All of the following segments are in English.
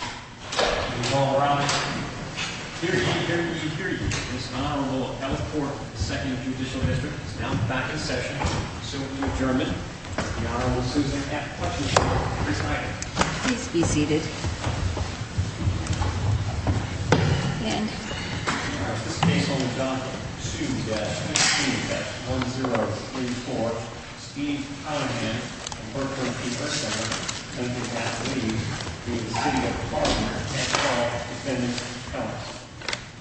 All rise. Here to give you security is Honorable Elfport, 2nd Judicial District. He's now back in session. So to adjournment, the Honorable Susan F. Kletzenschmid. Please be seated. This case will be done to the death of a student at 1034, Steve Conaghan, a Berkeley Paper Center Olympic athlete, v. City of Harvard, and all defendants' felons.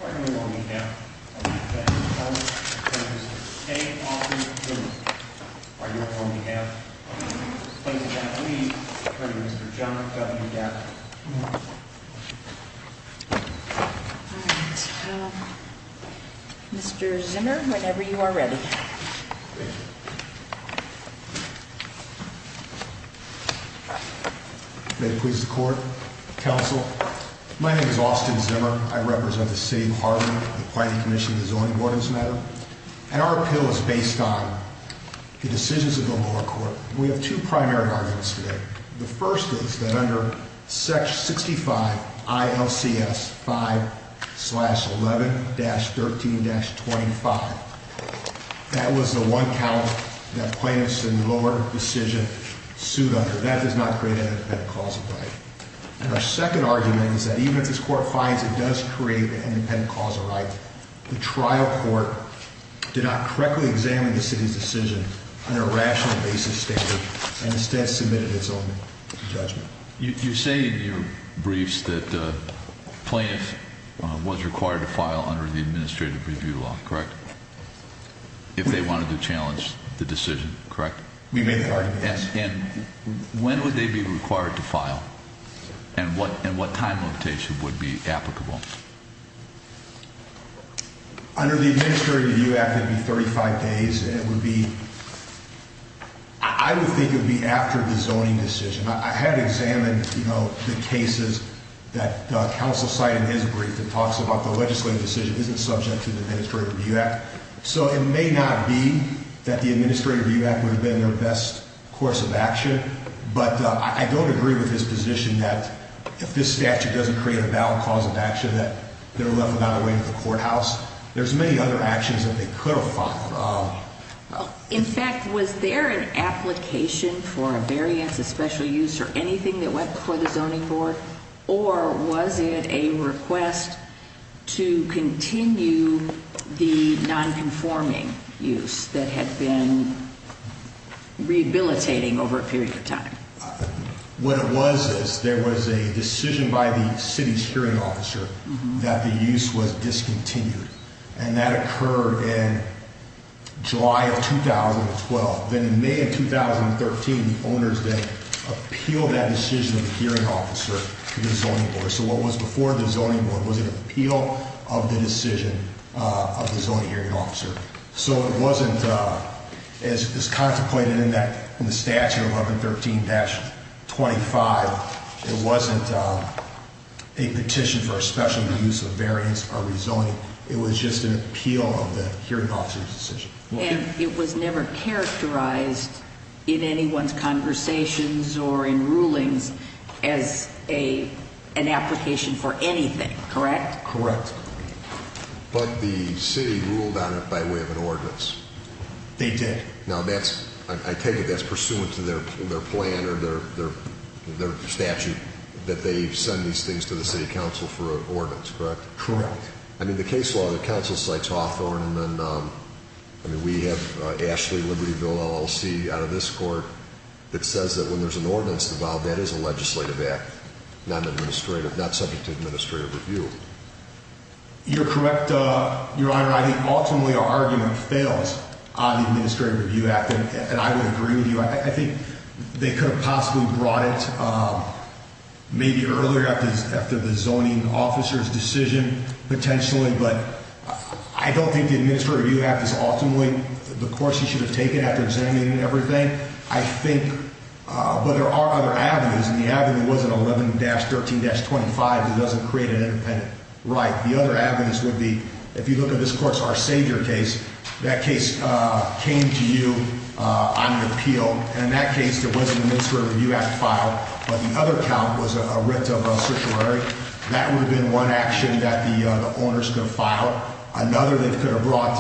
Are you on behalf of the defendants' felons, please stay off the podium. Are you on behalf of the Olympic Athletes, attorney Mr. John W. Gaffney. Mr. Zimmer, whenever you are ready. May it please the court, counsel. My name is Austin Zimmer. I represent the City of Harvard, the Appointee Commission of the Zoning Ordinance matter, and our appeal is based on the decisions of the lower court. We have two primary arguments today. The first is that under section 65 ILCS 5-11-13-25, that was the one count that plaintiffs in the lower decision sued under. That does not create an independent cause of right. And our second argument is that even if this court finds it does create an independent cause of right, the trial court did not correctly examine the city's decision under a rational basis standard and instead submitted its own judgment. You say in your briefs that plaintiffs was required to file under the administrative review law, correct? If they wanted to challenge the decision, correct? We made that argument. Yes, and when would they be required to file? And what time limitation would be applicable? Under the Administrative Review Act it would be 35 days. It would be, I would think it would be after the zoning decision. I had examined, you know, the cases that counsel cited in his brief that talks about the legislative decision isn't subject to the Administrative Review Act. So it may not be that the Administrative Review Act would have been their best course of action. But I don't agree with his position that if this statute doesn't create a valid cause of action that they're left without a way to the courthouse. There's many other actions that they could have filed. In fact, was there an application for a variance of special use or anything that went before the zoning board? Or was it a request to continue the nonconforming use that had been rehabilitating over a period of time? What it was is there was a decision by the city's hearing officer that the use was discontinued. And that occurred in July of 2012. Then in May of 2013, the owners then appealed that decision of the hearing officer to the zoning board. So what was before the zoning board was an appeal of the decision of the zoning hearing officer. So it wasn't as contemplated in the statute 1113-25. It wasn't a petition for a special use of variance or rezoning. It was just an appeal of the hearing officer's decision. And it was never characterized in anyone's conversations or in rulings as an application for anything, correct? Correct. But the city ruled on it by way of an ordinance. They did. Now, I take it that's pursuant to their plan or their statute that they send these things to the city council for an ordinance, correct? Correct. I mean, the case law, the council cites Hawthorne. And then we have Ashley Libertyville LLC out of this court that says that when there's an ordinance, that is a legislative act, not subject to administrative review. You're correct, Your Honor. I think ultimately our argument fails on the Administrative Review Act. And I would agree with you. I think they could have possibly brought it maybe earlier after the zoning officer's decision, potentially. But I don't think the Administrative Review Act is ultimately the course you should have taken after examining everything. I think, but there are other avenues. And the avenue wasn't 11-13-25. It doesn't create an independent right. The other avenues would be, if you look at this court's Arcedure case, that case came to you on an appeal. And in that case, there wasn't an Administrative Review Act filed. But the other count was a writ of certiorari. That would have been one action that the owners could have filed. Another they could have brought,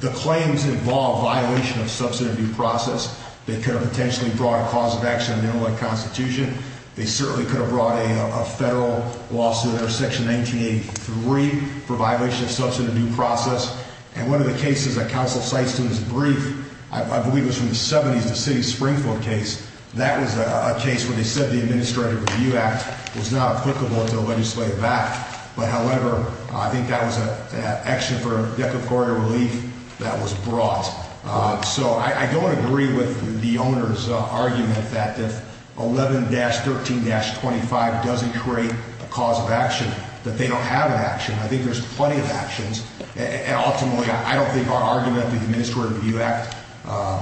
the claims involve violation of substantive due process. They could have potentially brought a cause of action, a minimum constitution. They certainly could have brought a federal lawsuit or section 1983 for violation of substantive due process. And one of the cases that counsel cites in this brief, I believe it was from the 70s, the city of Springfield case. That was a case where they said the Administrative Review Act was not applicable to the legislative act. But, however, I think that was an action for decorator relief that was brought. So I don't agree with the owner's argument that if 11-13-25 doesn't create a cause of action, that they don't have an action. I think there's plenty of actions. And ultimately, I don't think our argument that the Administrative Review Act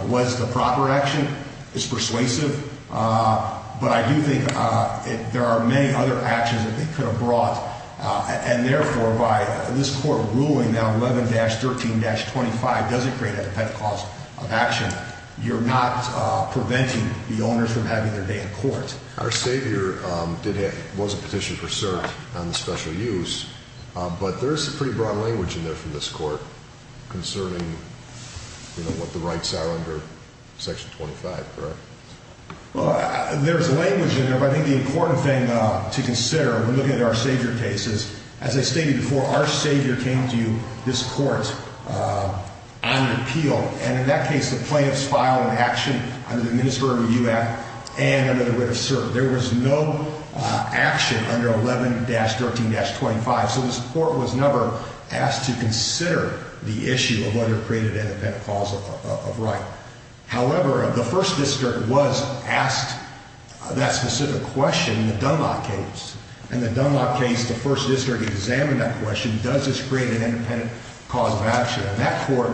was the proper action is persuasive. But I do think there are many other actions that they could have brought. And, therefore, by this court ruling that 11-13-25 doesn't create a dependent cause of action, you're not preventing the owners from having their day in court. Our savior did have, was a petition for cert on the special use. But there is some pretty broad language in there from this court concerning what the rights are under section 25, correct? Well, there's language in there, but I think the important thing to consider when looking at our savior case is, as I stated before, our savior came to this court on an appeal. And in that case, the plaintiffs filed an action under the Administrative Review Act and under the writ of cert. There was no action under 11-13-25. So this court was never asked to consider the issue of whether it created a dependent cause of right. However, the First District was asked that specific question in the Dunlop case. In the Dunlop case, the First District examined that question, does this create an independent cause of action? And that court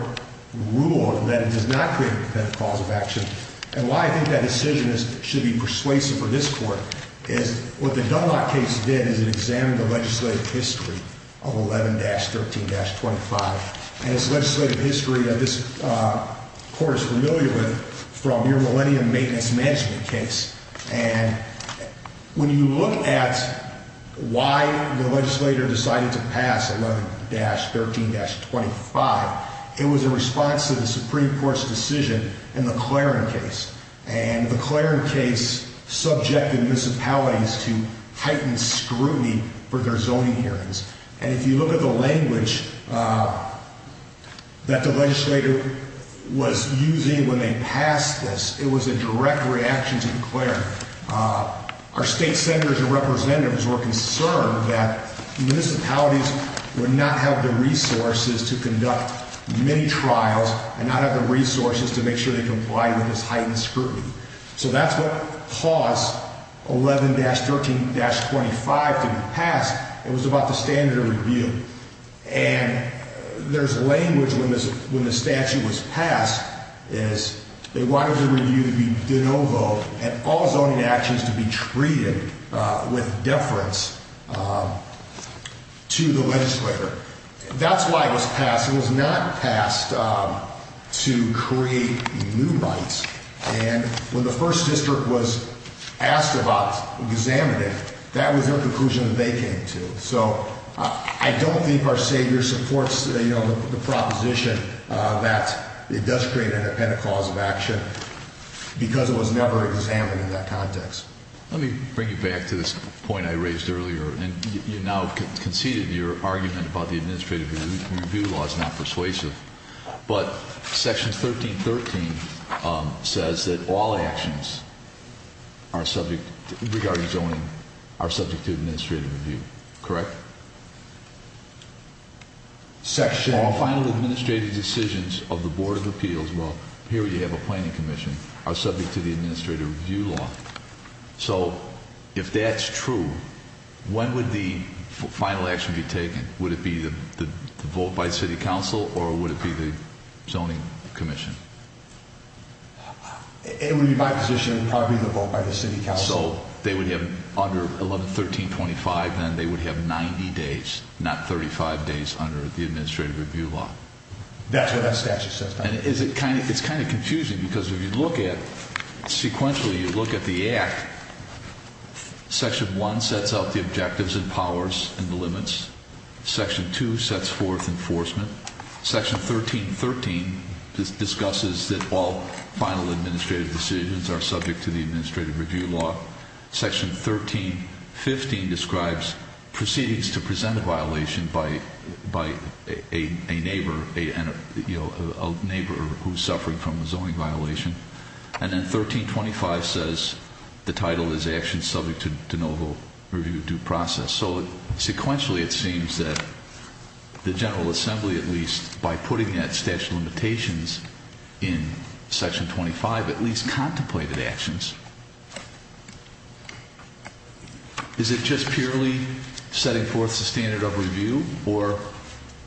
ruled that it does not create a dependent cause of action. And why I think that decision should be persuasive for this court is, what the Dunlop case did is it examined the legislative history of 11-13-25. And it's legislative history that this court is familiar with from your Millennium Maintenance Management case. And when you look at why the legislator decided to pass 11-13-25, it was a response to the Supreme Court's decision in the Claren case. And the Claren case subjected municipalities to heightened scrutiny for their zoning hearings. And if you look at the language that the legislator was using when they passed this, it was a direct reaction to the Claren. Our state senators and representatives were concerned that municipalities would not have the resources to conduct many trials and not have the resources to make sure they comply with this heightened scrutiny. So that's what caused 11-13-25 to be passed. It was about the standard of review. And there's language when the statute was passed is they wanted the review to be de novo and all zoning actions to be treated with deference to the legislator. That's why it was passed. It was not passed to create new rights. And when the first district was asked about examining, that was their conclusion that they came to. So I don't think our savior supports the proposition that it does create an independent cause of action because it was never examined in that context. Let me bring you back to this point I raised earlier. And you now conceded your argument about the administrative review law is not persuasive. But Section 13-13 says that all actions regarding zoning are subject to administrative review. Correct? Section 12. All final administrative decisions of the Board of Appeals, well, here you have a planning commission, are subject to the administrative review law. So if that's true, when would the final action be taken? Would it be the vote by city council or would it be the zoning commission? It would be my position it would probably be the vote by the city council. So they would have under 11-13-25, then they would have 90 days, not 35 days under the administrative review law. That's what that statute says. And it's kind of confusing because if you look at sequentially, you look at the act, Section 1 sets out the objectives and powers and the limits. Section 2 sets forth enforcement. Section 13-13 discusses that all final administrative decisions are subject to the administrative review law. Section 13-15 describes proceedings to present a violation by a neighbor who's suffering from a zoning violation. And then 13-25 says the title is actions subject to de novo review due process. So sequentially it seems that the General Assembly at least, by putting that statute of limitations in Section 25, at least contemplated actions. Is it just purely setting forth the standard of review or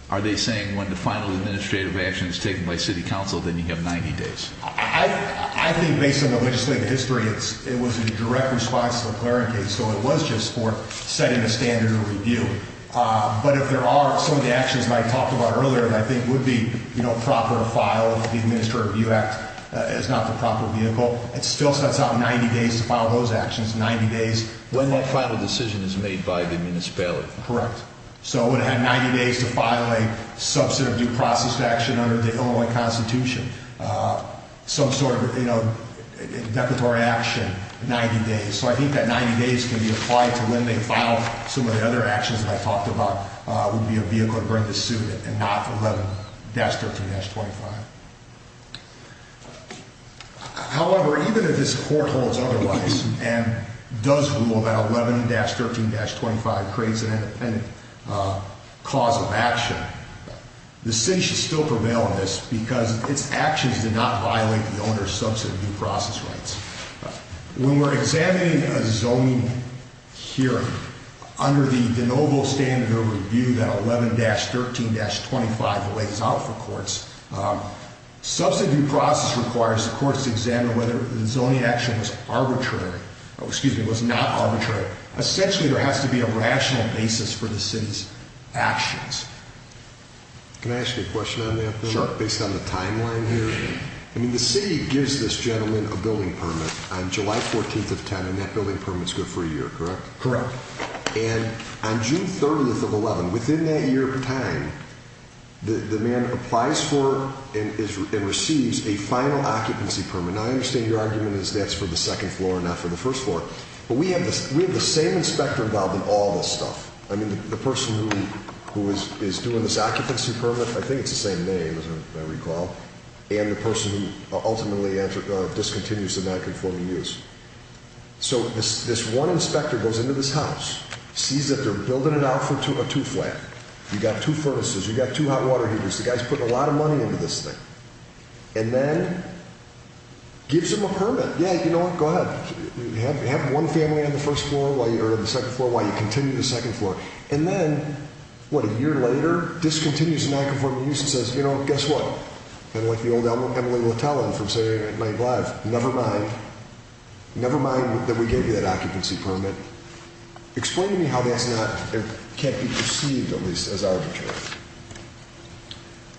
are they saying when the final administrative action is taken by city council, then you have 90 days? I think based on the legislative history, it was a direct response to the McLaren case. So it was just for setting a standard of review. But if there are some of the actions that I talked about earlier that I think would be proper to file, if the Administrative Review Act is not the proper vehicle, it still sets out 90 days to file those actions, 90 days. When that final decision is made by the municipality. Correct. So it would have had 90 days to file a subset of due process action under the Illinois Constitution. Some sort of, you know, declaratory action, 90 days. So I think that 90 days can be applied to when they file some of the other actions that I talked about would be a vehicle to bring to suit and not 11-13-25. However, even if this Court holds otherwise and does rule that 11-13-25 creates an independent cause of action, the city should still prevail on this because its actions did not violate the owner's subset of due process rights. When we're examining a zoning hearing under the de novo standard of review that 11-13-25 lays out for courts, subset due process requires the courts to examine whether the zoning action was arbitrary, or excuse me, was not arbitrary. Essentially, there has to be a rational basis for the city's actions. Can I ask you a question on that, based on the timeline here? Sure. I mean, the city gives this gentleman a building permit on July 14th of 2010, and that building permit's good for a year, correct? Correct. And on June 30th of 2011, within that year time, the man applies for and receives a final occupancy permit. Now, I understand your argument is that's for the second floor and not for the first floor. But we have the same inspector involved in all this stuff. I mean, the person who is doing this occupancy permit, I think it's the same name, as I recall, and the person who ultimately discontinues the nonconforming use. So this one inspector goes into this house, sees that they're building it out for a two-flat. You've got two furnaces, you've got two hot water heaters. The guy's putting a lot of money into this thing. And then gives him a permit. Yeah, you know what, go ahead. Have one family on the second floor while you continue the second floor. And then, what, a year later, discontinues the nonconforming use and says, you know what, guess what? Kind of like the old Emily Lutellian from Saturday Night Live. Never mind. Never mind that we gave you that occupancy permit. Explain to me how that can't be perceived, at least as arbitrary.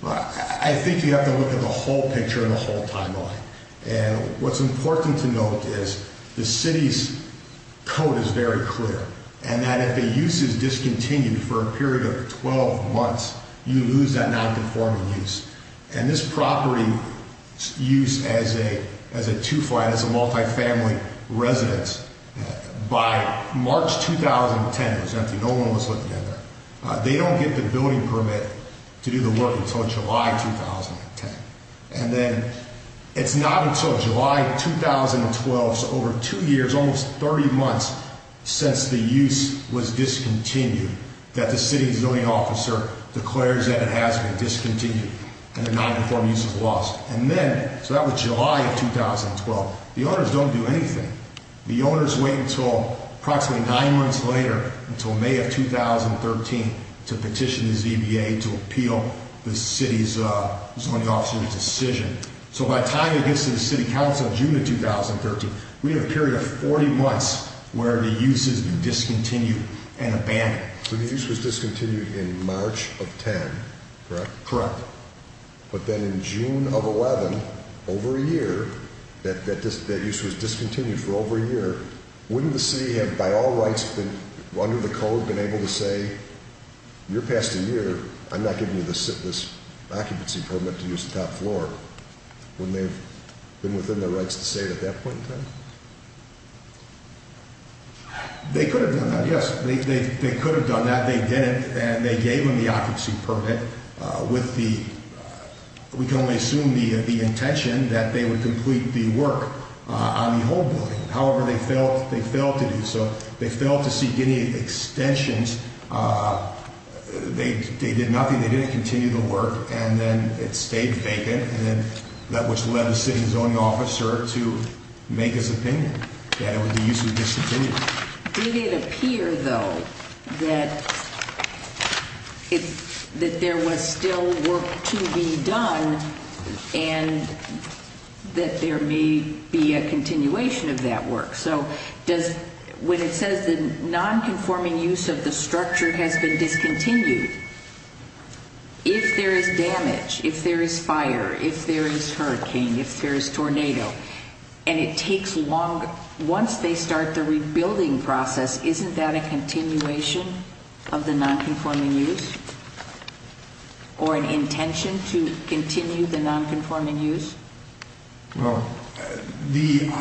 I think you have to look at the whole picture and the whole timeline. And what's important to note is the city's code is very clear. And that if a use is discontinued for a period of 12 months, you lose that nonconforming use. And this property's use as a two-flat, as a multifamily residence, by March 2010, no one was looking at that. They don't get the building permit to do the work until July 2010. And then it's not until July 2012, so over two years, almost 30 months since the use was discontinued, that the city zoning officer declares that it has been discontinued and the nonconforming use is lost. And then, so that was July of 2012, the owners don't do anything. The owners wait until approximately nine months later, until May of 2013, to petition the ZBA to appeal the city's zoning officer's decision. So by the time it gets to the city council, June of 2013, we have a period of 40 months where the use has been discontinued and abandoned. So the use was discontinued in March of 10, correct? Correct. But then in June of 11, over a year, that use was discontinued for over a year. Wouldn't the city have, by all rights under the code, been able to say, you're past a year, I'm not giving you this occupancy permit to use the top floor? Wouldn't they have been within their rights to say it at that point in time? They could have done that, yes. They could have done that, they didn't, and they gave them the occupancy permit with the, we can only assume the intention that they would complete the work on the whole building. However, they failed to do so. They failed to seek any extensions, they did nothing, they didn't continue the work, and then it stayed vacant, which led the city's zoning officer to make his opinion that it would be used to discontinue it. Did it appear, though, that there was still work to be done and that there may be a continuation of that work? So does, when it says the nonconforming use of the structure has been discontinued, if there is damage, if there is fire, if there is hurricane, if there is tornado, and it takes longer, once they start the rebuilding process, isn't that a continuation of the nonconforming use? Or an intention to continue the nonconforming use? Well, the,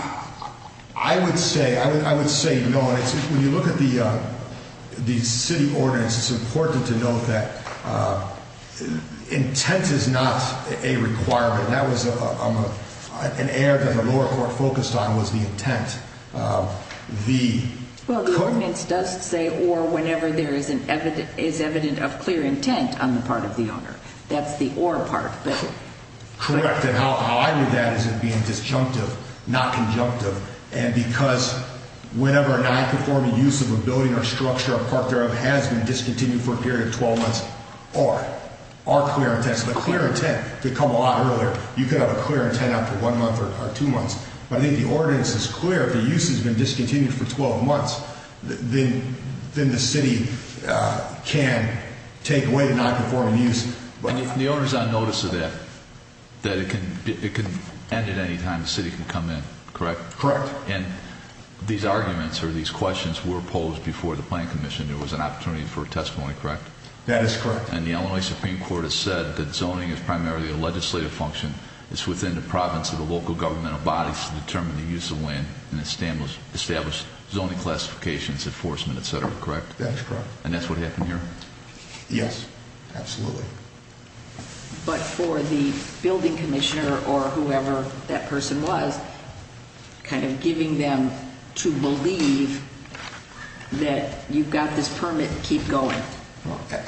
I would say, I would say no. When you look at the city ordinance, it's important to note that intent is not a requirement. That was an error that the lower court focused on was the intent. Well, the ordinance does say or whenever there is evident of clear intent on the part of the owner. That's the or part. Correct, and how I read that is it being disjunctive, not conjunctive, and because whenever a nonconforming use of a building or structure or part thereof has been discontinued for a period of 12 months, or are clear intent, so the clear intent could come a lot earlier. You could have a clear intent after one month or two months, but I think the ordinance is clear. If the use has been discontinued for 12 months, then the city can take away the nonconforming use. And the owner is on notice of that, that it can end at any time. The city can come in, correct? Correct. And these arguments or these questions were posed before the Planning Commission. There was an opportunity for a testimony, correct? That is correct. And the Illinois Supreme Court has said that zoning is primarily a legislative function. It's within the province of the local governmental bodies to determine the use of land and establish zoning classifications, enforcement, etc., correct? That is correct. And that's what happened here? Yes, absolutely. But for the building commissioner or whoever that person was, kind of giving them to believe that you've got this permit, keep going.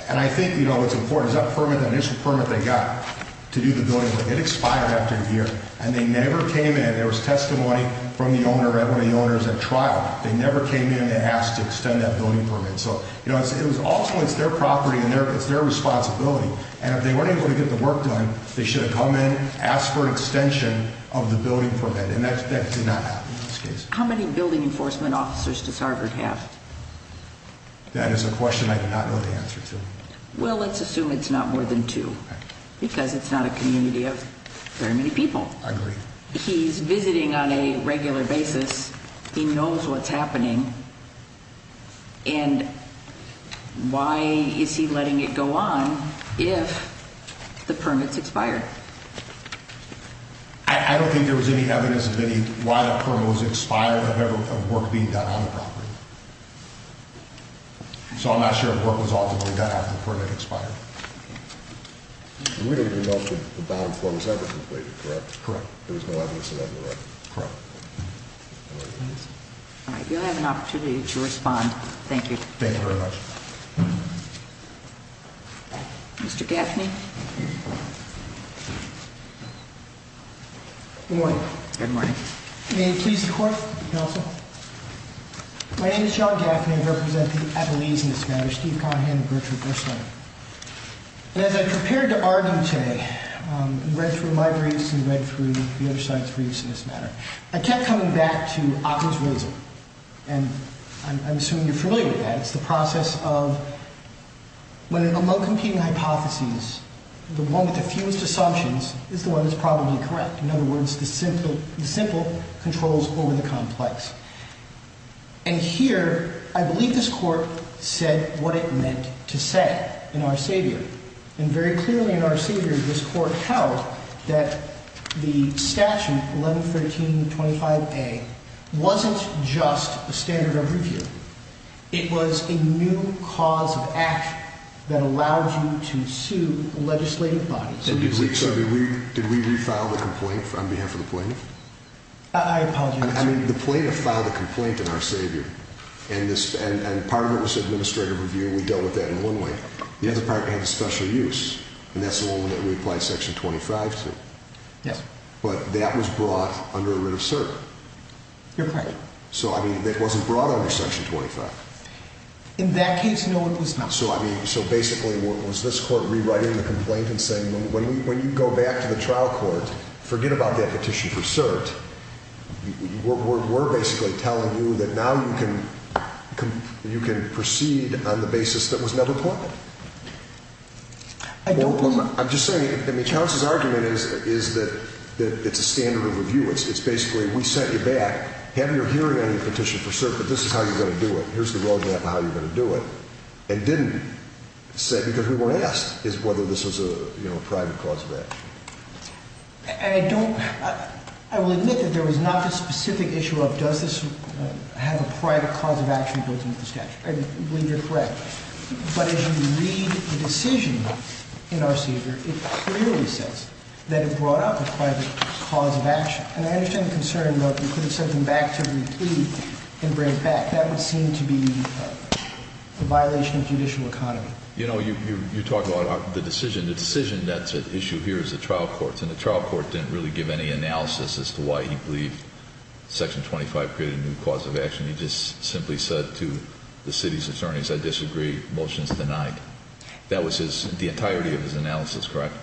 And I think, you know, what's important is that permit, that initial permit they got to do the building, it expired after a year, and they never came in. There was testimony from the owner that the owner is at trial. They never came in and asked to extend that building permit. So, you know, also it's their property and it's their responsibility. And if they weren't able to get the work done, they should have come in, asked for an extension of the building permit. And that did not happen in this case. How many building enforcement officers does Harvard have? That is a question I do not know the answer to. Well, let's assume it's not more than two because it's not a community of very many people. I agree. He's visiting on a regular basis. He knows what's happening. And why is he letting it go on if the permits expired? I don't think there was any evidence of any why the permit was expired of work being done on the property. So I'm not sure if work was ultimately done after the permit expired. We don't even know if the bond form was ever completed, correct? Correct. There was no evidence of that in the record? Correct. All right. You'll have an opportunity to respond. Thank you. Thank you very much. Mr. Gaffney. Good morning. Good morning. May it please the court, counsel. My name is John Gaffney. I represent the Appalachians in this matter, Steve Conahan and Gertrude Burstein. And as I prepared to argue today and read through my briefs and read through the other side's briefs in this matter, I kept coming back to Acker's reason. And I'm assuming you're familiar with that. It's the process of when among competing hypotheses, the one with the fewest assumptions is the one that's probably correct. In other words, the simple controls over the complex. And here, I believe this court said what it meant to say in Our Savior. And very clearly in Our Savior, this court held that the statute, 111325A, wasn't just a standard of review. It was a new cause of action that allowed you to sue legislative bodies. Did we refile the complaint on behalf of the plaintiff? I apologize. I mean, the plaintiff filed a complaint in Our Savior. And part of it was administrative review, and we dealt with that in one way. The other part had a special use, and that's the one that we applied Section 25 to. Yes. But that was brought under a writ of cert. Your pardon? So, I mean, that wasn't brought under Section 25. In that case, no, it was not. So, basically, was this court rewriting the complaint and saying, when you go back to the trial court, forget about that petition for cert. We're basically telling you that now you can proceed on the basis that was never plotted. I don't believe that. I'm just saying, I mean, Charles's argument is that it's a standard of review. It's basically, we sent you back, have your hearing on your petition for cert, but this is how you're going to do it. Here's the road map of how you're going to do it. And didn't, because we weren't asked, is whether this was a private cause of action. I don't, I will admit that there was not a specific issue of does this have a private cause of action built into the statute. I believe you're correct. But as you read the decision in our seizure, it clearly says that it brought up a private cause of action. And I understand the concern about you putting something back to every plea and bring it back. That would seem to be a violation of judicial economy. You know, you talk about the decision. The decision that's at issue here is the trial court. And the trial court didn't really give any analysis as to why he believed section 25 created a new cause of action. He just simply said to the city's attorneys, I disagree, motion's denied. That was his, the entirety of his analysis, correct?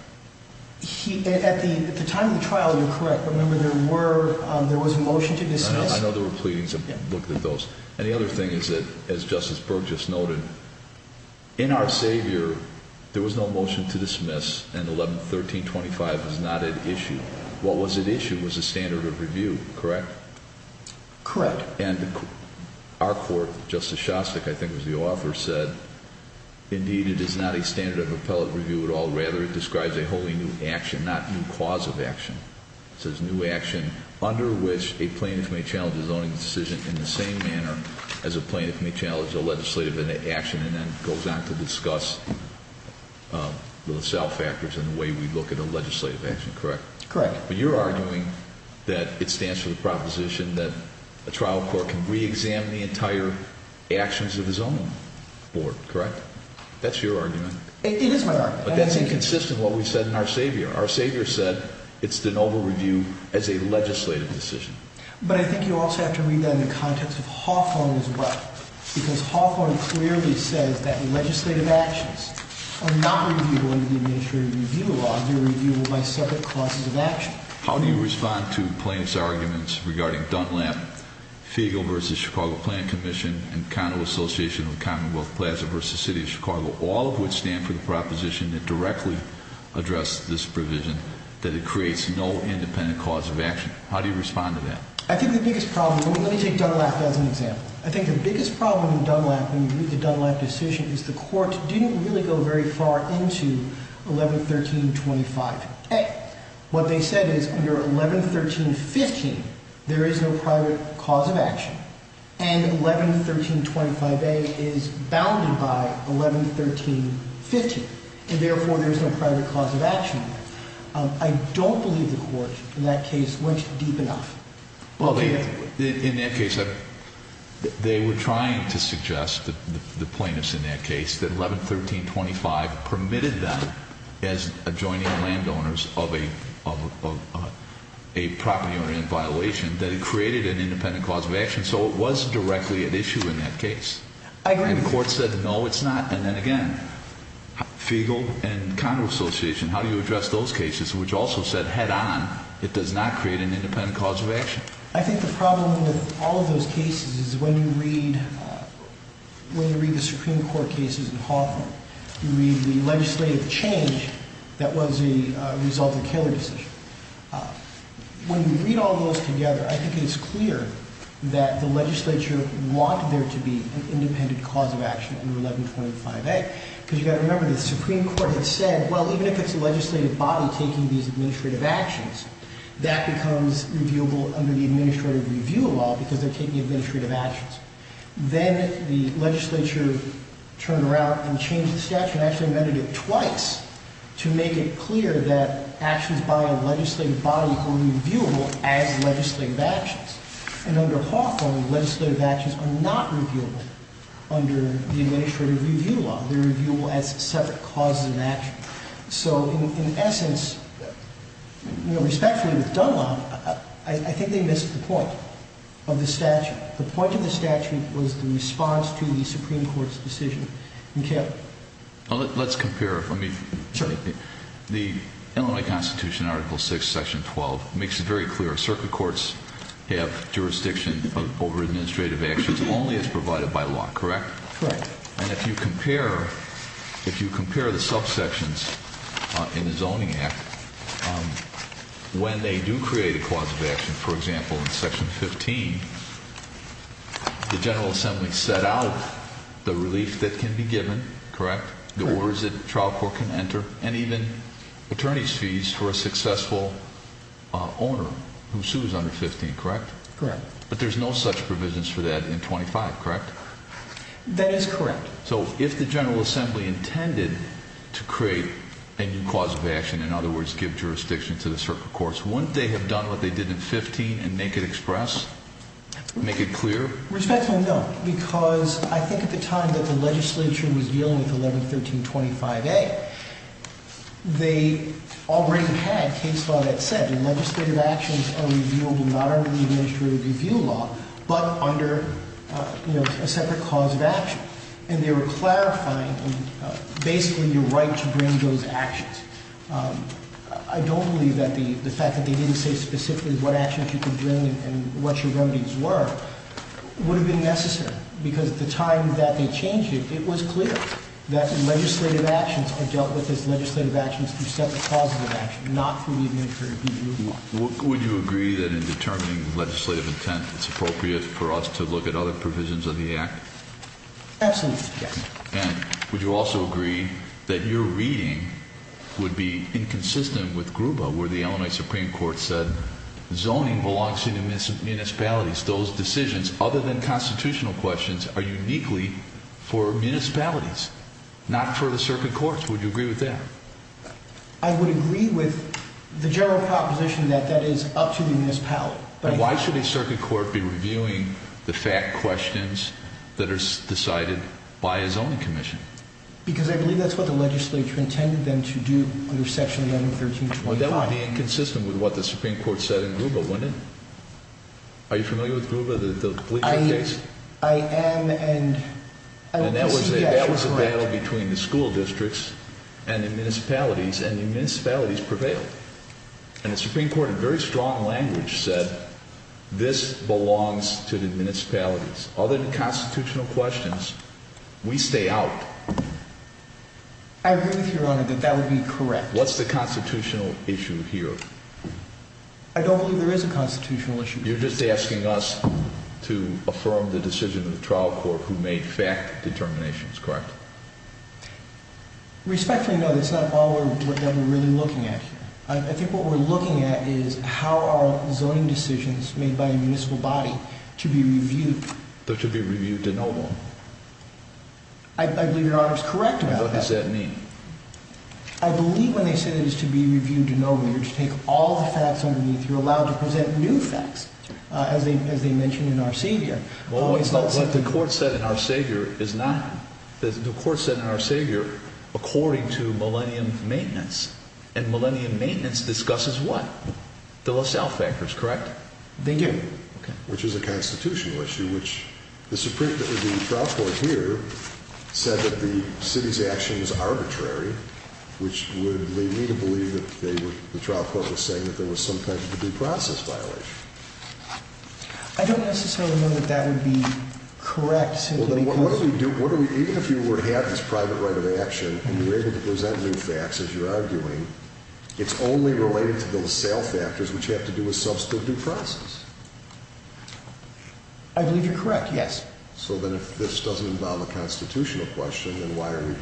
He, at the time of the trial, you're correct. Remember, there were, there was a motion to dismiss. I know there were pleadings. I've looked at those. And the other thing is that, as Justice Berg just noted, in our seizure, there was no motion to dismiss. And 111325 is not at issue. What was at issue was a standard of review, correct? Correct. And our court, Justice Shostak, I think was the author, said, indeed, it is not a standard of appellate review at all. Rather, it describes a wholly new action, not new cause of action. It says new action under which a plaintiff may challenge his own decision in the same manner as a plaintiff may challenge a legislative action. And then goes on to discuss the sale factors and the way we look at a legislative action, correct? Correct. But you're arguing that it stands for the proposition that a trial court can reexamine the entire actions of his own board, correct? That's your argument. It is my argument. But that's inconsistent with what we've said in our seizure. Our seizure said it's de novo review as a legislative decision. But I think you also have to read that in the context of Hawthorne as well. Because Hawthorne clearly says that legislative actions are not reviewable under the Administrative Review Law. They're reviewable by separate causes of action. How do you respond to plaintiffs' arguments regarding Dunlap, Fiegel v. Chicago Plan Commission, and Connell Association of Commonwealth Plaza v. City of Chicago, all of which stand for the proposition that directly addressed this provision, that it creates no independent cause of action? How do you respond to that? I think the biggest problem, let me take Dunlap as an example. I think the biggest problem in Dunlap when you read the Dunlap decision is the court didn't really go very far into 111325A. What they said is under 111315, there is no private cause of action. And 111325A is bounded by 111315. And therefore, there's no private cause of action. I don't believe the court in that case went deep enough. Well, in that case, they were trying to suggest, the plaintiffs in that case, that 111325 permitted them, as adjoining landowners of a property or land violation, that it created an independent cause of action. So it was directly at issue in that case. I agree. And the court said, no, it's not. And then again, Fiegel and Congress Association, how do you address those cases, which also said head on, it does not create an independent cause of action? I think the problem with all of those cases is when you read the Supreme Court cases in Hawthorne, you read the legislative change that was a result of the Koehler decision. When you read all those together, I think it's clear that the legislature wanted there to be an independent cause of action under 1125A. Because you've got to remember, the Supreme Court had said, well, even if it's a legislative body taking these administrative actions, that becomes reviewable under the administrative review law, because they're taking administrative actions. Then the legislature turned around and changed the statute and actually amended it twice to make it clear that actions by a legislative body are reviewable as legislative actions. And under Hawthorne, legislative actions are not reviewable under the administrative review law. They're reviewable as separate causes of action. So in essence, respectfully with Dunlop, I think they missed the point of the statute. The point of the statute was the response to the Supreme Court's decision. Let's compare. The Illinois Constitution, Article 6, Section 12, makes it very clear. Circuit courts have jurisdiction over administrative actions only as provided by law, correct? Correct. And if you compare the subsections in the Zoning Act, when they do create a cause of action, for example, in Section 15, the General Assembly set out the relief that can be given, correct? The orders that the trial court can enter, and even attorney's fees for a successful owner who sues under 15, correct? Correct. But there's no such provisions for that in 25, correct? That is correct. So if the General Assembly intended to create a new cause of action, in other words, give jurisdiction to the circuit courts, wouldn't they have done what they did in 15 and make it express, make it clear? Respectfully, no. Because I think at the time that the legislature was dealing with 111325A, they already had a case law that said legislative actions are reviewable not under the administrative review law, but under a separate cause of action. And they were clarifying basically your right to bring those actions. I don't believe that the fact that they didn't say specifically what actions you could bring and what your remedies were would have been necessary. Because at the time that they changed it, it was clear that legislative actions are dealt with as legislative actions through separate causes of action, not through the administrative review law. Would you agree that in determining legislative intent, it's appropriate for us to look at other provisions of the act? Absolutely, yes. And would you also agree that your reading would be inconsistent with Gruba, where the Illinois Supreme Court said zoning belongs to municipalities. Those decisions, other than constitutional questions, are uniquely for municipalities, not for the circuit courts. Would you agree with that? I would agree with the general proposition that that is up to the municipality. And why should a circuit court be reviewing the fact questions that are decided by a zoning commission? Because I believe that's what the legislature intended them to do under section 111325A. Well, that would be inconsistent with what the Supreme Court said in Gruba, wouldn't it? Are you familiar with Gruba, the bleacher case? I am, and yes, you're correct. And that was a battle between the school districts and the municipalities, and the municipalities prevailed. And the Supreme Court, in very strong language, said this belongs to the municipalities. Other than constitutional questions, we stay out. I agree with you, Your Honor, that that would be correct. What's the constitutional issue here? I don't believe there is a constitutional issue. You're just asking us to affirm the decision of the trial court who made fact determinations, correct? Respectfully, no, that's not all that we're really looking at here. I think what we're looking at is how are zoning decisions made by a municipal body to be reviewed? They're to be reviewed de novo. I believe Your Honor is correct about that. What does that mean? I believe when they say it is to be reviewed de novo, you're to take all the facts underneath. You're allowed to present new facts, as they mentioned in Our Savior. What the court said in Our Savior is not. The court said in Our Savior, according to Millennium Maintenance, and Millennium Maintenance discusses what? The LaSalle factors, correct? They do. Which is a constitutional issue, which the trial court here said that the city's action was arbitrary, which would lead me to believe that the trial court was saying that there was some kind of a due process violation. I don't necessarily know that that would be correct simply because Even if you were to have this private right of action and you were able to present new facts, as you're arguing, it's only related to the LaSalle factors, which have to do with substitute due process. I believe you're correct, yes. So then if this doesn't involve a constitutional question, then why are we here?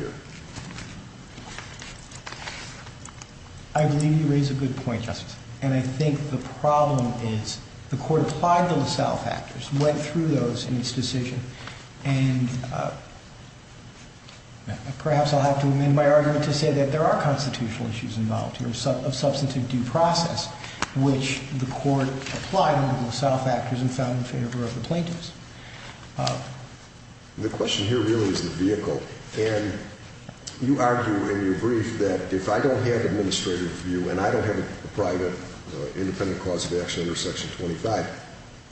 I believe you raise a good point, Justice. And I think the problem is the court applied the LaSalle factors, went through those in its decision, and perhaps I'll have to amend my argument to say that there are constitutional issues involved here of substitute due process, which the court applied under the LaSalle factors and found in favor of the plaintiffs. The question here really is the vehicle. And you argue in your brief that if I don't have administrative view and I don't have a private independent cause of action under Section 25,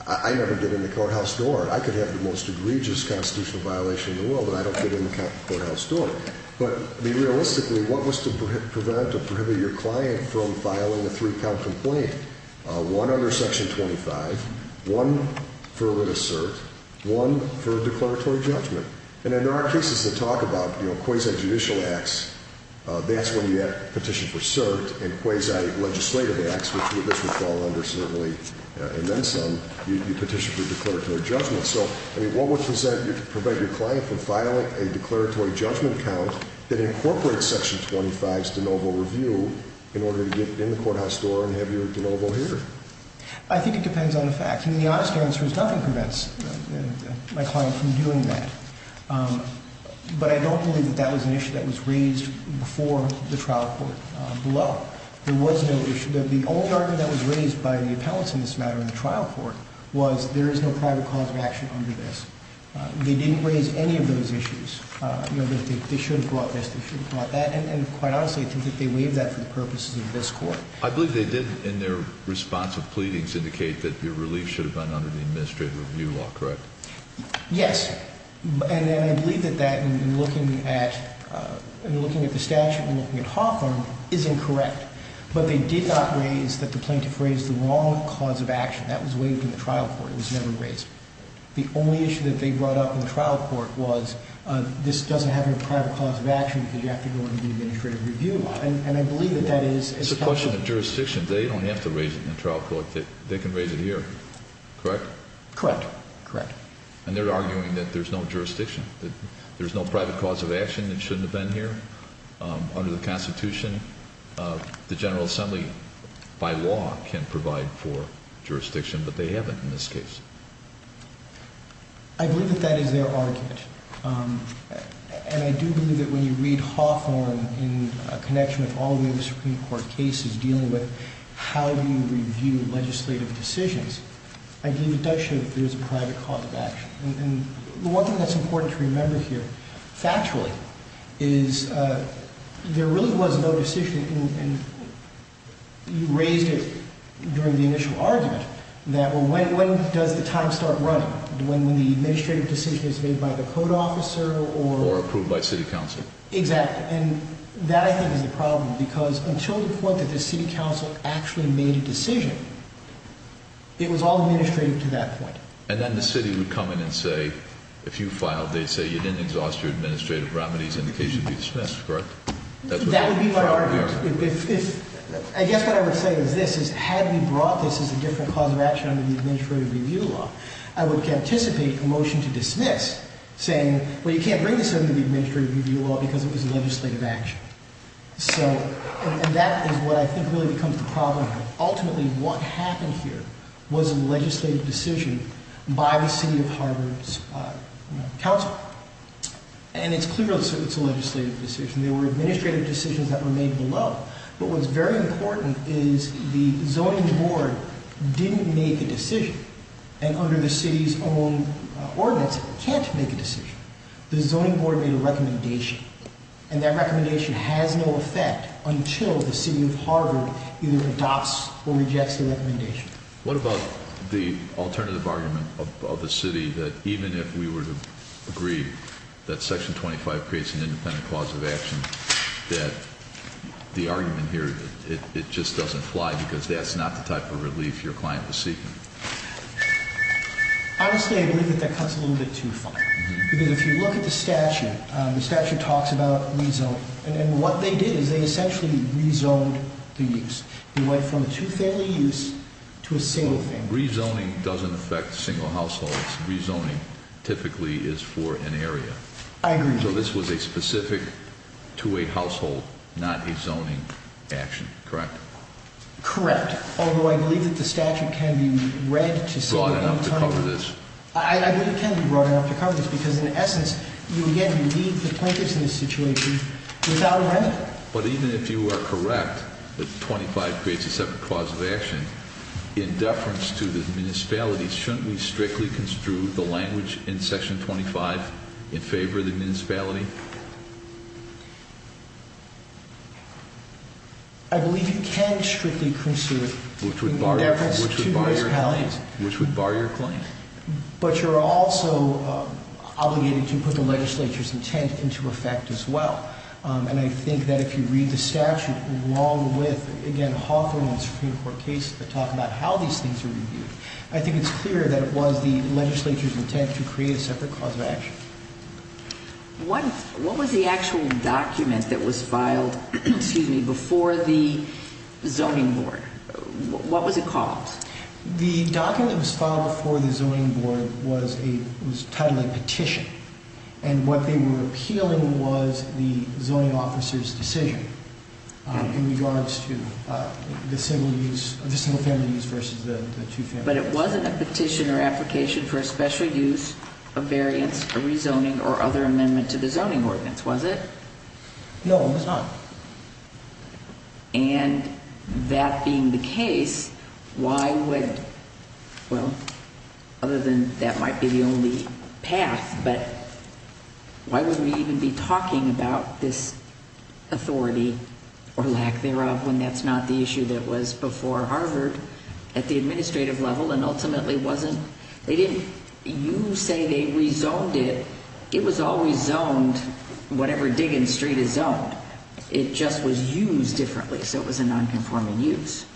I never get in the courthouse door. I could have the most egregious constitutional violation in the world, but I don't get in the courthouse door. But realistically, what was to prevent or prohibit your client from filing a three-count complaint? One under Section 25, one for an assert, one for a declaratory judgment. And there are cases that talk about quasi-judicial acts, that's when you petition for cert, and quasi-legislative acts, which this would fall under certainly, and then some, you petition for declaratory judgment. So what was to prevent your client from filing a declaratory judgment count that incorporates Section 25's de novo review in order to get in the courthouse door and have your de novo here? I think it depends on the facts. I mean, the honest answer is nothing prevents my client from doing that. But I don't believe that that was an issue that was raised before the trial court below. There was no issue. The only argument that was raised by the appellants in this matter in the trial court was there is no private cause of action under this. They didn't raise any of those issues, you know, that they should have brought this, they should have brought that. And quite honestly, I think that they waived that for the purposes of this court. I believe they did, in their response of pleadings, indicate that your relief should have been under the administrative review law, correct? Yes. And I believe that that, in looking at the statute and looking at Hawthorne, is incorrect. But they did not raise that the plaintiff raised the wrong cause of action. That was waived in the trial court. It was never raised. The only issue that they brought up in the trial court was this doesn't have any private cause of action because you have to go under the administrative review law. It's a question of jurisdiction. They don't have to raise it in the trial court. They can raise it here, correct? Correct. Correct. And they're arguing that there's no jurisdiction, that there's no private cause of action that shouldn't have been here under the Constitution. The General Assembly, by law, can provide for jurisdiction, but they haven't in this case. I believe that that is their argument. And I do believe that when you read Hawthorne in connection with all the other Supreme Court cases dealing with how you review legislative decisions, I do think it does show that there is a private cause of action. And one thing that's important to remember here, factually, is there really was no decision. And you raised it during the initial argument that when does the time start running? When the administrative decision is made by the code officer or... Or approved by city council. And that, I think, is the problem because until the point that the city council actually made a decision, it was all administrative to that point. And then the city would come in and say, if you filed, they'd say you didn't exhaust your administrative remedies and the case would be dismissed, correct? That would be my argument. I guess what I would say is this, is had we brought this as a different cause of action under the Administrative Review Law, I would anticipate a motion to dismiss saying, well, you can't bring this under the Administrative Review Law because it was a legislative action. And that is what I think really becomes the problem. Ultimately, what happened here was a legislative decision by the city of Harvard's council. And it's clear that it's a legislative decision. There were administrative decisions that were made below. But what's very important is the zoning board didn't make a decision. And under the city's own ordinance, it can't make a decision. The zoning board made a recommendation. And that recommendation has no effect until the city of Harvard either adopts or rejects the recommendation. What about the alternative argument of the city that even if we were to agree that Section 25 creates an independent cause of action, that the argument here, it just doesn't apply because that's not the type of relief your client was seeking? Honestly, I believe that that cuts a little bit too far. Because if you look at the statute, the statute talks about rezoning. And what they did is they essentially rezoned the use. They went from a two-family use to a single family use. So rezoning doesn't affect single households. Rezoning typically is for an area. I agree. So this was a specific two-way household, not a zoning action, correct? Correct. Although I believe that the statute can be read to some extent. Broad enough to cover this? I believe it can be broad enough to cover this. Because in essence, you, again, leave the plaintiffs in this situation without a remedy. Well, but even if you are correct that 25 creates a separate cause of action, in deference to the municipalities, shouldn't we strictly construe the language in Section 25 in favor of the municipality? I believe you can strictly construe it in deference to municipalities. Which would bar your claim. But you're also obligated to put the legislature's intent into effect as well. And I think that if you read the statute along with, again, Hawthorne and Supreme Court cases that talk about how these things are reviewed, I think it's clear that it was the legislature's intent to create a separate cause of action. What was the actual document that was filed before the zoning board? What was it called? The document that was filed before the zoning board was titled a petition. And what they were appealing was the zoning officer's decision in regards to the single-family use versus the two-family use. But it wasn't a petition or application for a special use, a variance, a rezoning or other amendment to the zoning ordinance, was it? No, it was not. And that being the case, why would, well, other than that might be the only path, but why would we even be talking about this authority or lack thereof when that's not the issue that was before Harvard at the administrative level and ultimately wasn't? You say they rezoned it. It was always zoned whatever Diggins Street is zoned. It just was used differently, so it was a nonconforming use.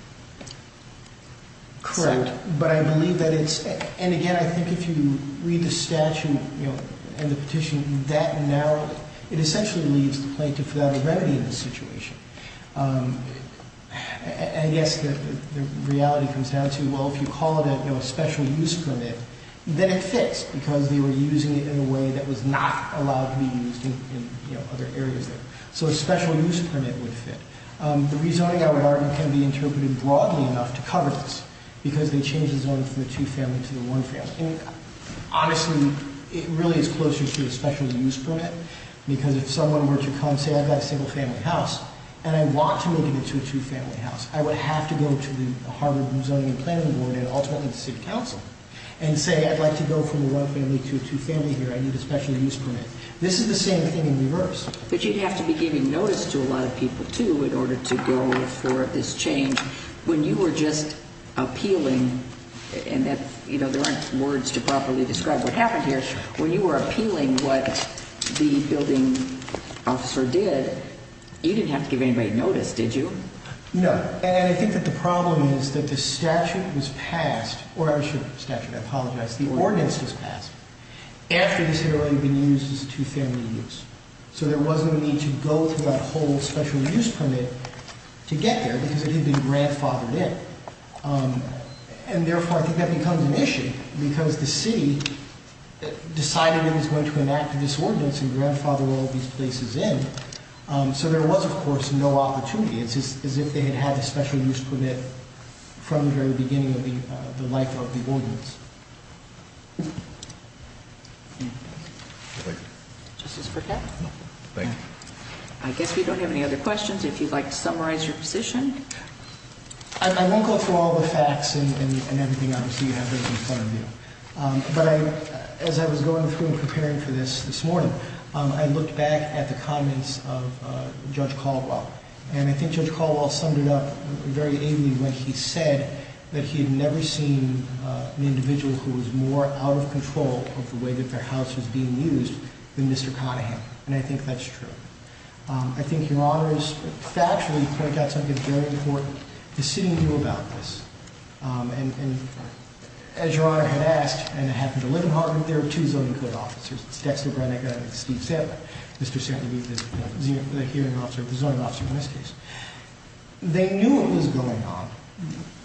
Correct. But I believe that it's, and again, I think if you read the statute and the petition that narrowly, it essentially leaves the plaintiff without a remedy in this situation. I guess the reality comes down to, well, if you call it a special use permit, then it fits because they were using it in a way that was not allowed to be used in other areas there. So a special use permit would fit. The rezoning, I would argue, can be interpreted broadly enough to cover this because they changed the zoning from the two-family to the one-family. Honestly, it really is closer to a special use permit because if someone were to come say, I've got a single-family house and I want to move it to a two-family house, I would have to go to the Harvard Zoning and Planning Board and ultimately the city council and say, I'd like to go from the one-family to a two-family here. I need a special use permit. This is the same thing in reverse. But you'd have to be giving notice to a lot of people, too, in order to go for this change. When you were just appealing, and there aren't words to properly describe what happened here, when you were appealing what the building officer did, you didn't have to give anybody notice, did you? No. And I think that the problem is that the statute was passed, or I should say statute, I apologize, the ordinance was passed after this area had been used as a two-family use. So there was no need to go through that whole special use permit to get there because it had been grandfathered in. And therefore, I think that becomes an issue because the city decided it was going to enact this ordinance and grandfather all these places in. So there was, of course, no opportunity. It's as if they had had a special use permit from the very beginning of the life of the ordinance. Thank you. Justice Burkett? No. Thank you. I guess we don't have any other questions. If you'd like to summarize your position? I won't go through all the facts and everything, obviously, you have right in front of you. But as I was going through and preparing for this this morning, I looked back at the comments of Judge Caldwell. And I think Judge Caldwell summed it up very ably when he said that he had never seen an individual who was more out of control of the way that their house was being used than Mr. Conahan. And I think that's true. I think your Honor is factually pointing out something very important. The city knew about this. And as your Honor had asked, and it happened to live in Harvard, there are two zoning code officers. It's Dexter Brannigan and Steve Sandler. Mr. Sandler is the hearing officer, the zoning officer in this case. They knew what was going on.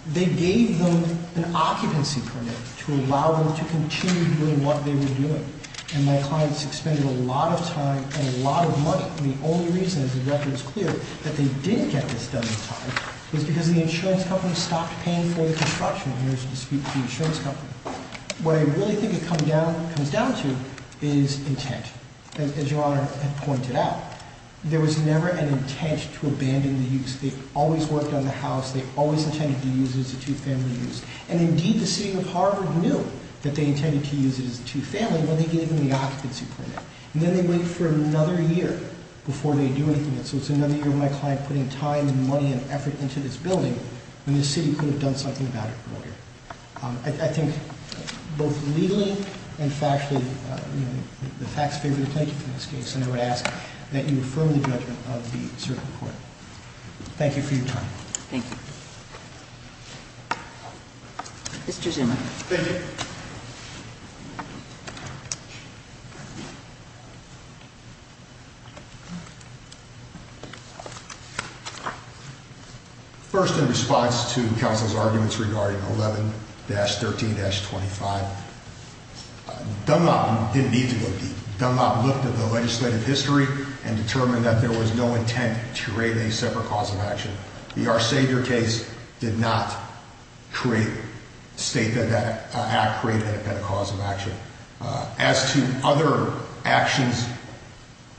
They gave them an occupancy permit to allow them to continue doing what they were doing. And my clients expended a lot of time and a lot of money. And the only reason, as the record is clear, that they didn't get this done in time was because the insurance company stopped paying for the construction. And there's a dispute with the insurance company. What I really think it comes down to is intent. As your Honor had pointed out, there was never an intent to abandon the use. They always worked on the house. They always intended to use it as a two-family use. And indeed, the city of Harvard knew that they intended to use it as a two-family when they gave them the occupancy permit. And then they wait for another year before they do anything. And so it's another year of my client putting time and money and effort into this building when the city could have done something about it earlier. I think both legally and factually, the facts favor the plaintiff in this case. And I would ask that you affirm the judgment of the circuit court. Thank you for your time. Thank you. Mr. Zimmer. Thank you. First, in response to counsel's arguments regarding 11-13-25, Dunlop didn't need to go deep. Dunlop looked at the legislative history and determined that there was no intent to create a separate cause of action. Our savior case did not create, state that that act created a cause of action. As to other actions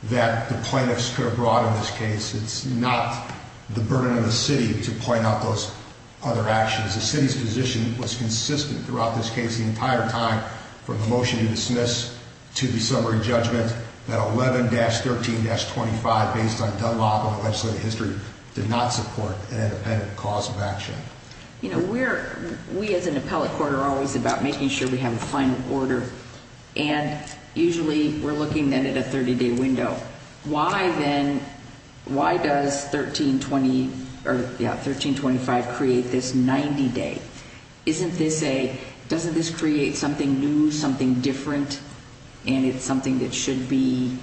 that the plaintiffs could have brought in this case, it's not the burden of the city to point out those other actions. The city's position was consistent throughout this case the entire time from the motion to dismiss to the summary judgment that 11-13-25, based on Dunlop and the legislative history, did not support an independent cause of action. You know, we as an appellate court are always about making sure we have a final order. And usually we're looking then at a 30-day window. Why does 13-25 create this 90-day? Doesn't this create something new, something different, and it's something that should be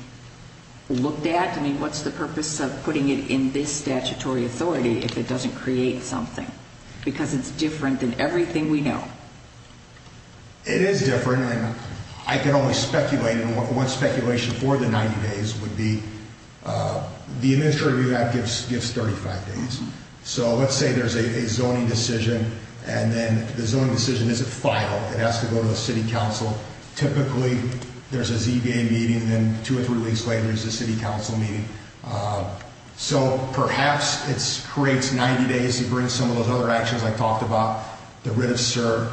looked at? I mean, what's the purpose of putting it in this statutory authority if it doesn't create something? Because it's different than everything we know. It is different, and I can only speculate. One speculation for the 90 days would be the administrative review act gives 35 days. So let's say there's a zoning decision, and then the zoning decision isn't final. It has to go to the city council. Typically there's a ZBA meeting, and then two or three weeks later there's a city council meeting. So perhaps it creates 90 days to bring some of those other actions I talked about, the writ of cert,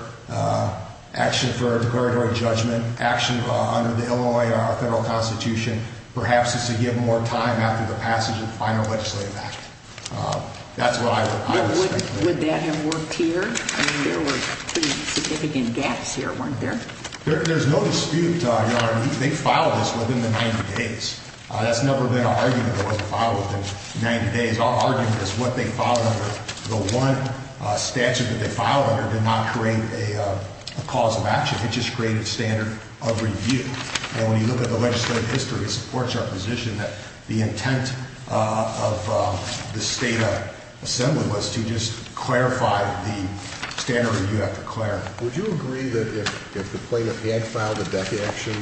action for declaratory judgment, action under the Illinois Federal Constitution, perhaps it's to give more time after the passage of the final legislative act. That's what I would speculate. Would that have worked here? I mean, there were pretty significant gaps here, weren't there? There's no dispute. They filed this within the 90 days. That's never been an argument that it wasn't filed within 90 days. Our argument is what they filed under the one statute that they filed under did not create a cause of action. It just created a standard of review. And when you look at the legislative history, it supports our position that the intent of the state assembly was to just clarify the standard review after clarity. Would you agree that if the plaintiff had filed a deck action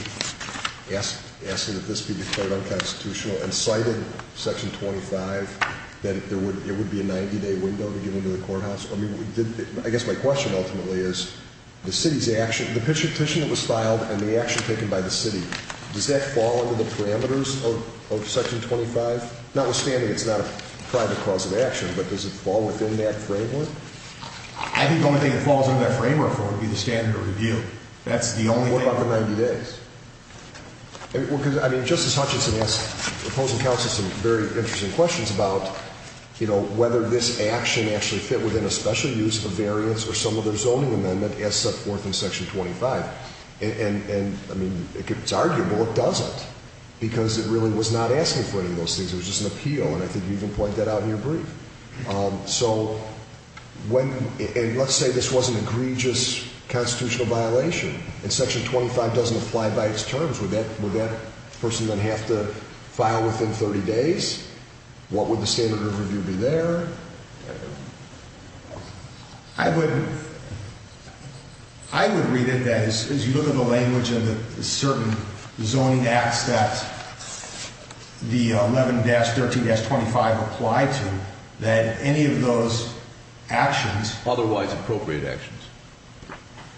asking that this be declared unconstitutional and cited Section 25, that it would be a 90-day window to get into the courthouse? I mean, I guess my question ultimately is the city's action, the petition that was filed and the action taken by the city, does that fall under the parameters of Section 25? Notwithstanding it's not a private cause of action, but does it fall within that framework? I think the only thing that falls under that framework, though, would be the standard of review. That's the only thing- What about the 90 days? Because, I mean, Justice Hutchinson asked opposing counsel some very interesting questions about, you know, whether this action actually fit within a special use of variance or some other zoning amendment as set forth in Section 25. And, I mean, it's arguable it doesn't, because it really was not asking for any of those things. It was just an appeal, and I think you even pointed that out in your brief. So, let's say this was an egregious constitutional violation, and Section 25 doesn't apply by its terms, would that person then have to file within 30 days? What would the standard of review be there? I would read it as, as you look at the language of the certain zoning acts that the 11-13-25 apply to, that any of those actions- Otherwise appropriate actions.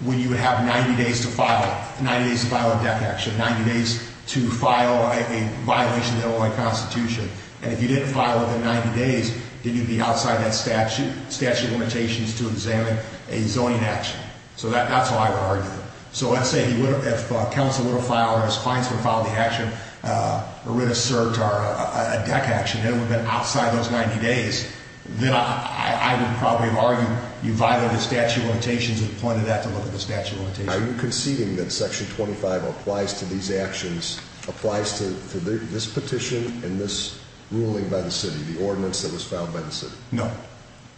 When you have 90 days to file, 90 days to file a death action, 90 days to file a violation of the Illinois Constitution, and if you didn't file within 90 days, then you'd be outside that statute of limitations to examine a zoning action. So, that's how I would argue it. So, let's say if counsel were to file, or his clients were to file the action, a writ of cert or a deck action that would have been outside those 90 days, then I would probably argue you violated the statute of limitations and pointed that to look at the statute of limitations. Are you conceding that Section 25 applies to these actions, applies to this petition and this ruling by the city, the ordinance that was filed by the city? No.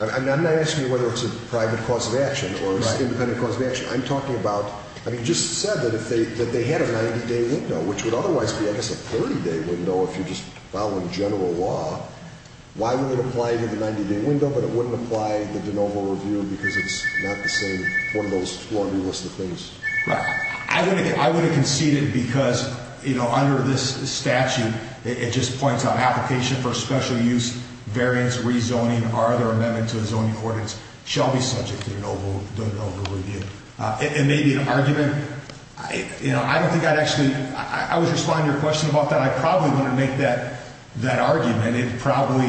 I'm not asking you whether it's a private cause of action or an independent cause of action. I'm talking about, I mean, you just said that if they had a 90-day window, which would otherwise be, I guess, a 30-day window if you're just following general law, why would it apply to the 90-day window, but it wouldn't apply to the de novo review because it's not the same, one of those four new lists of things? Right. I wouldn't concede it because, you know, under this statute, it just points out application for special use, variance, rezoning, are there amendments to the zoning ordinance, shall be subject to the de novo review. It may be an argument. You know, I don't think I'd actually, I was responding to your question about that. I probably wouldn't make that argument. It probably,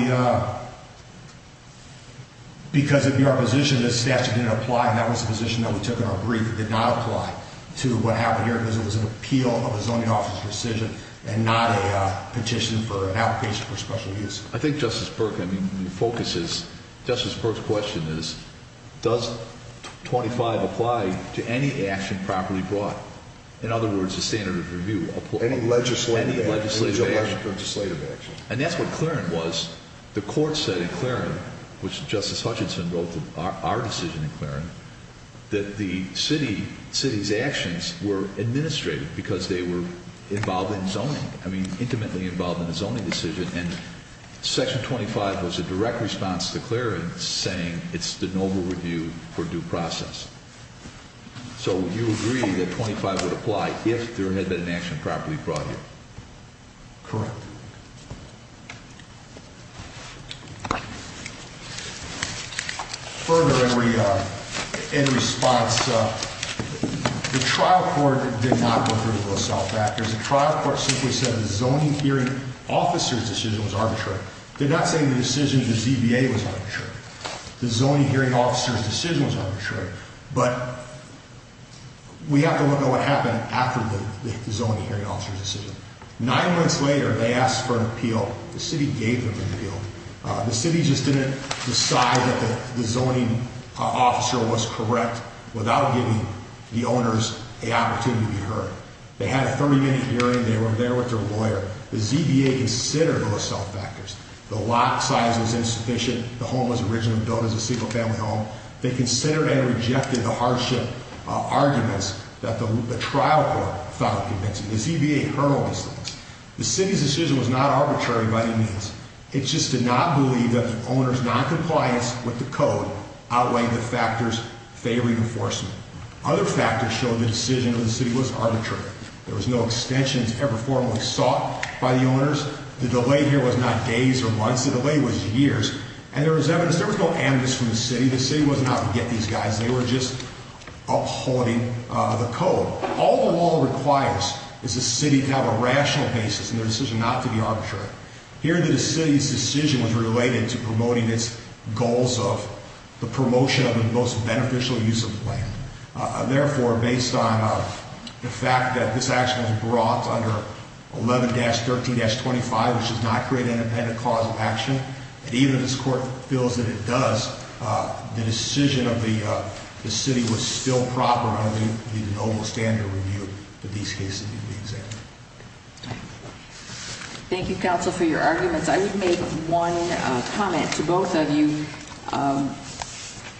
because of your position, this statute didn't apply, and that was the position that we took in our brief. It did not apply to what happened here because it was an appeal of a zoning office decision and not a petition for an application for special use. I think, Justice Burke, I mean, the focus is, Justice Burke's question is, does 25 apply to any action properly brought? In other words, the standard of review. Any legislative action. Any legislative action. Any legislative action. And that's what Clarence was, the court said in Clarence, which Justice Hutchinson wrote our decision in Clarence, that the city's actions were administrative because they were involved in zoning, I mean, intimately involved in the zoning decision, and section 25 was a direct response to Clarence saying it's de novo review for due process. So you agree that 25 would apply if there had been an action properly brought here? Correct. Further, in response, the trial court did not go through with those self-factors. The trial court simply said the zoning hearing officer's decision was arbitrary. Did not say the decision of the ZBA was arbitrary. The zoning hearing officer's decision was arbitrary. But we have to look at what happened after the zoning hearing officer's decision. Nine months later, they asked for an appeal. The city gave them an appeal. The city just didn't decide that the zoning officer was correct without giving the owners an opportunity to be heard. They had a 30-minute hearing. They were there with their lawyer. The ZBA considered those self-factors. The lot size was insufficient. The home was originally built as a single-family home. They considered and rejected the hardship arguments that the trial court found convincing. The ZBA heard all these things. The city's decision was not arbitrary by any means. It just did not believe that the owners' noncompliance with the code outweighed the factors favoring enforcement. Other factors showed the decision of the city was arbitrary. There was no extensions ever formally sought by the owners. The delay here was not days or months. The delay was years. And there was evidence. There was no amnesty from the city. The city was not out to get these guys. They were just upholding the code. All the law requires is the city to have a rational basis in their decision not to be arbitrary. Here, the city's decision was related to promoting its goals of the promotion of the most beneficial use of land. Therefore, based on the fact that this action was brought under 11-13-25, which does not create an independent clause of action, and even if this court feels that it does, the decision of the city was still proper under the noble standard review that these cases need to be examined. Thank you, counsel, for your arguments. I would make one comment to both of you.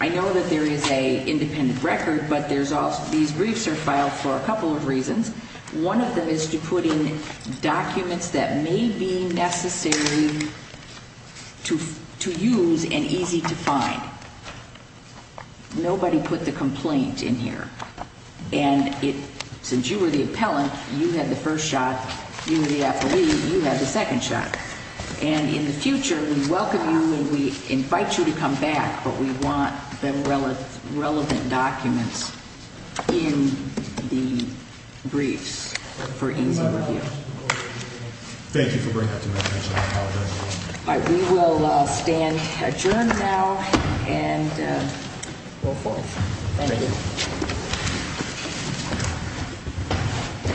I know that there is an independent record, but these briefs are filed for a couple of reasons. One of them is to put in documents that may be necessary to use and easy to find. Nobody put the complaint in here. And since you were the appellant, you had the first shot. You were the affiliate. You had the second shot. And in the future, we welcome you and we invite you to come back, but we want the relevant documents in the briefs for easy review. Thank you for bringing that to my attention. I apologize. All right. We will stand adjourned now and go forth. Thank you.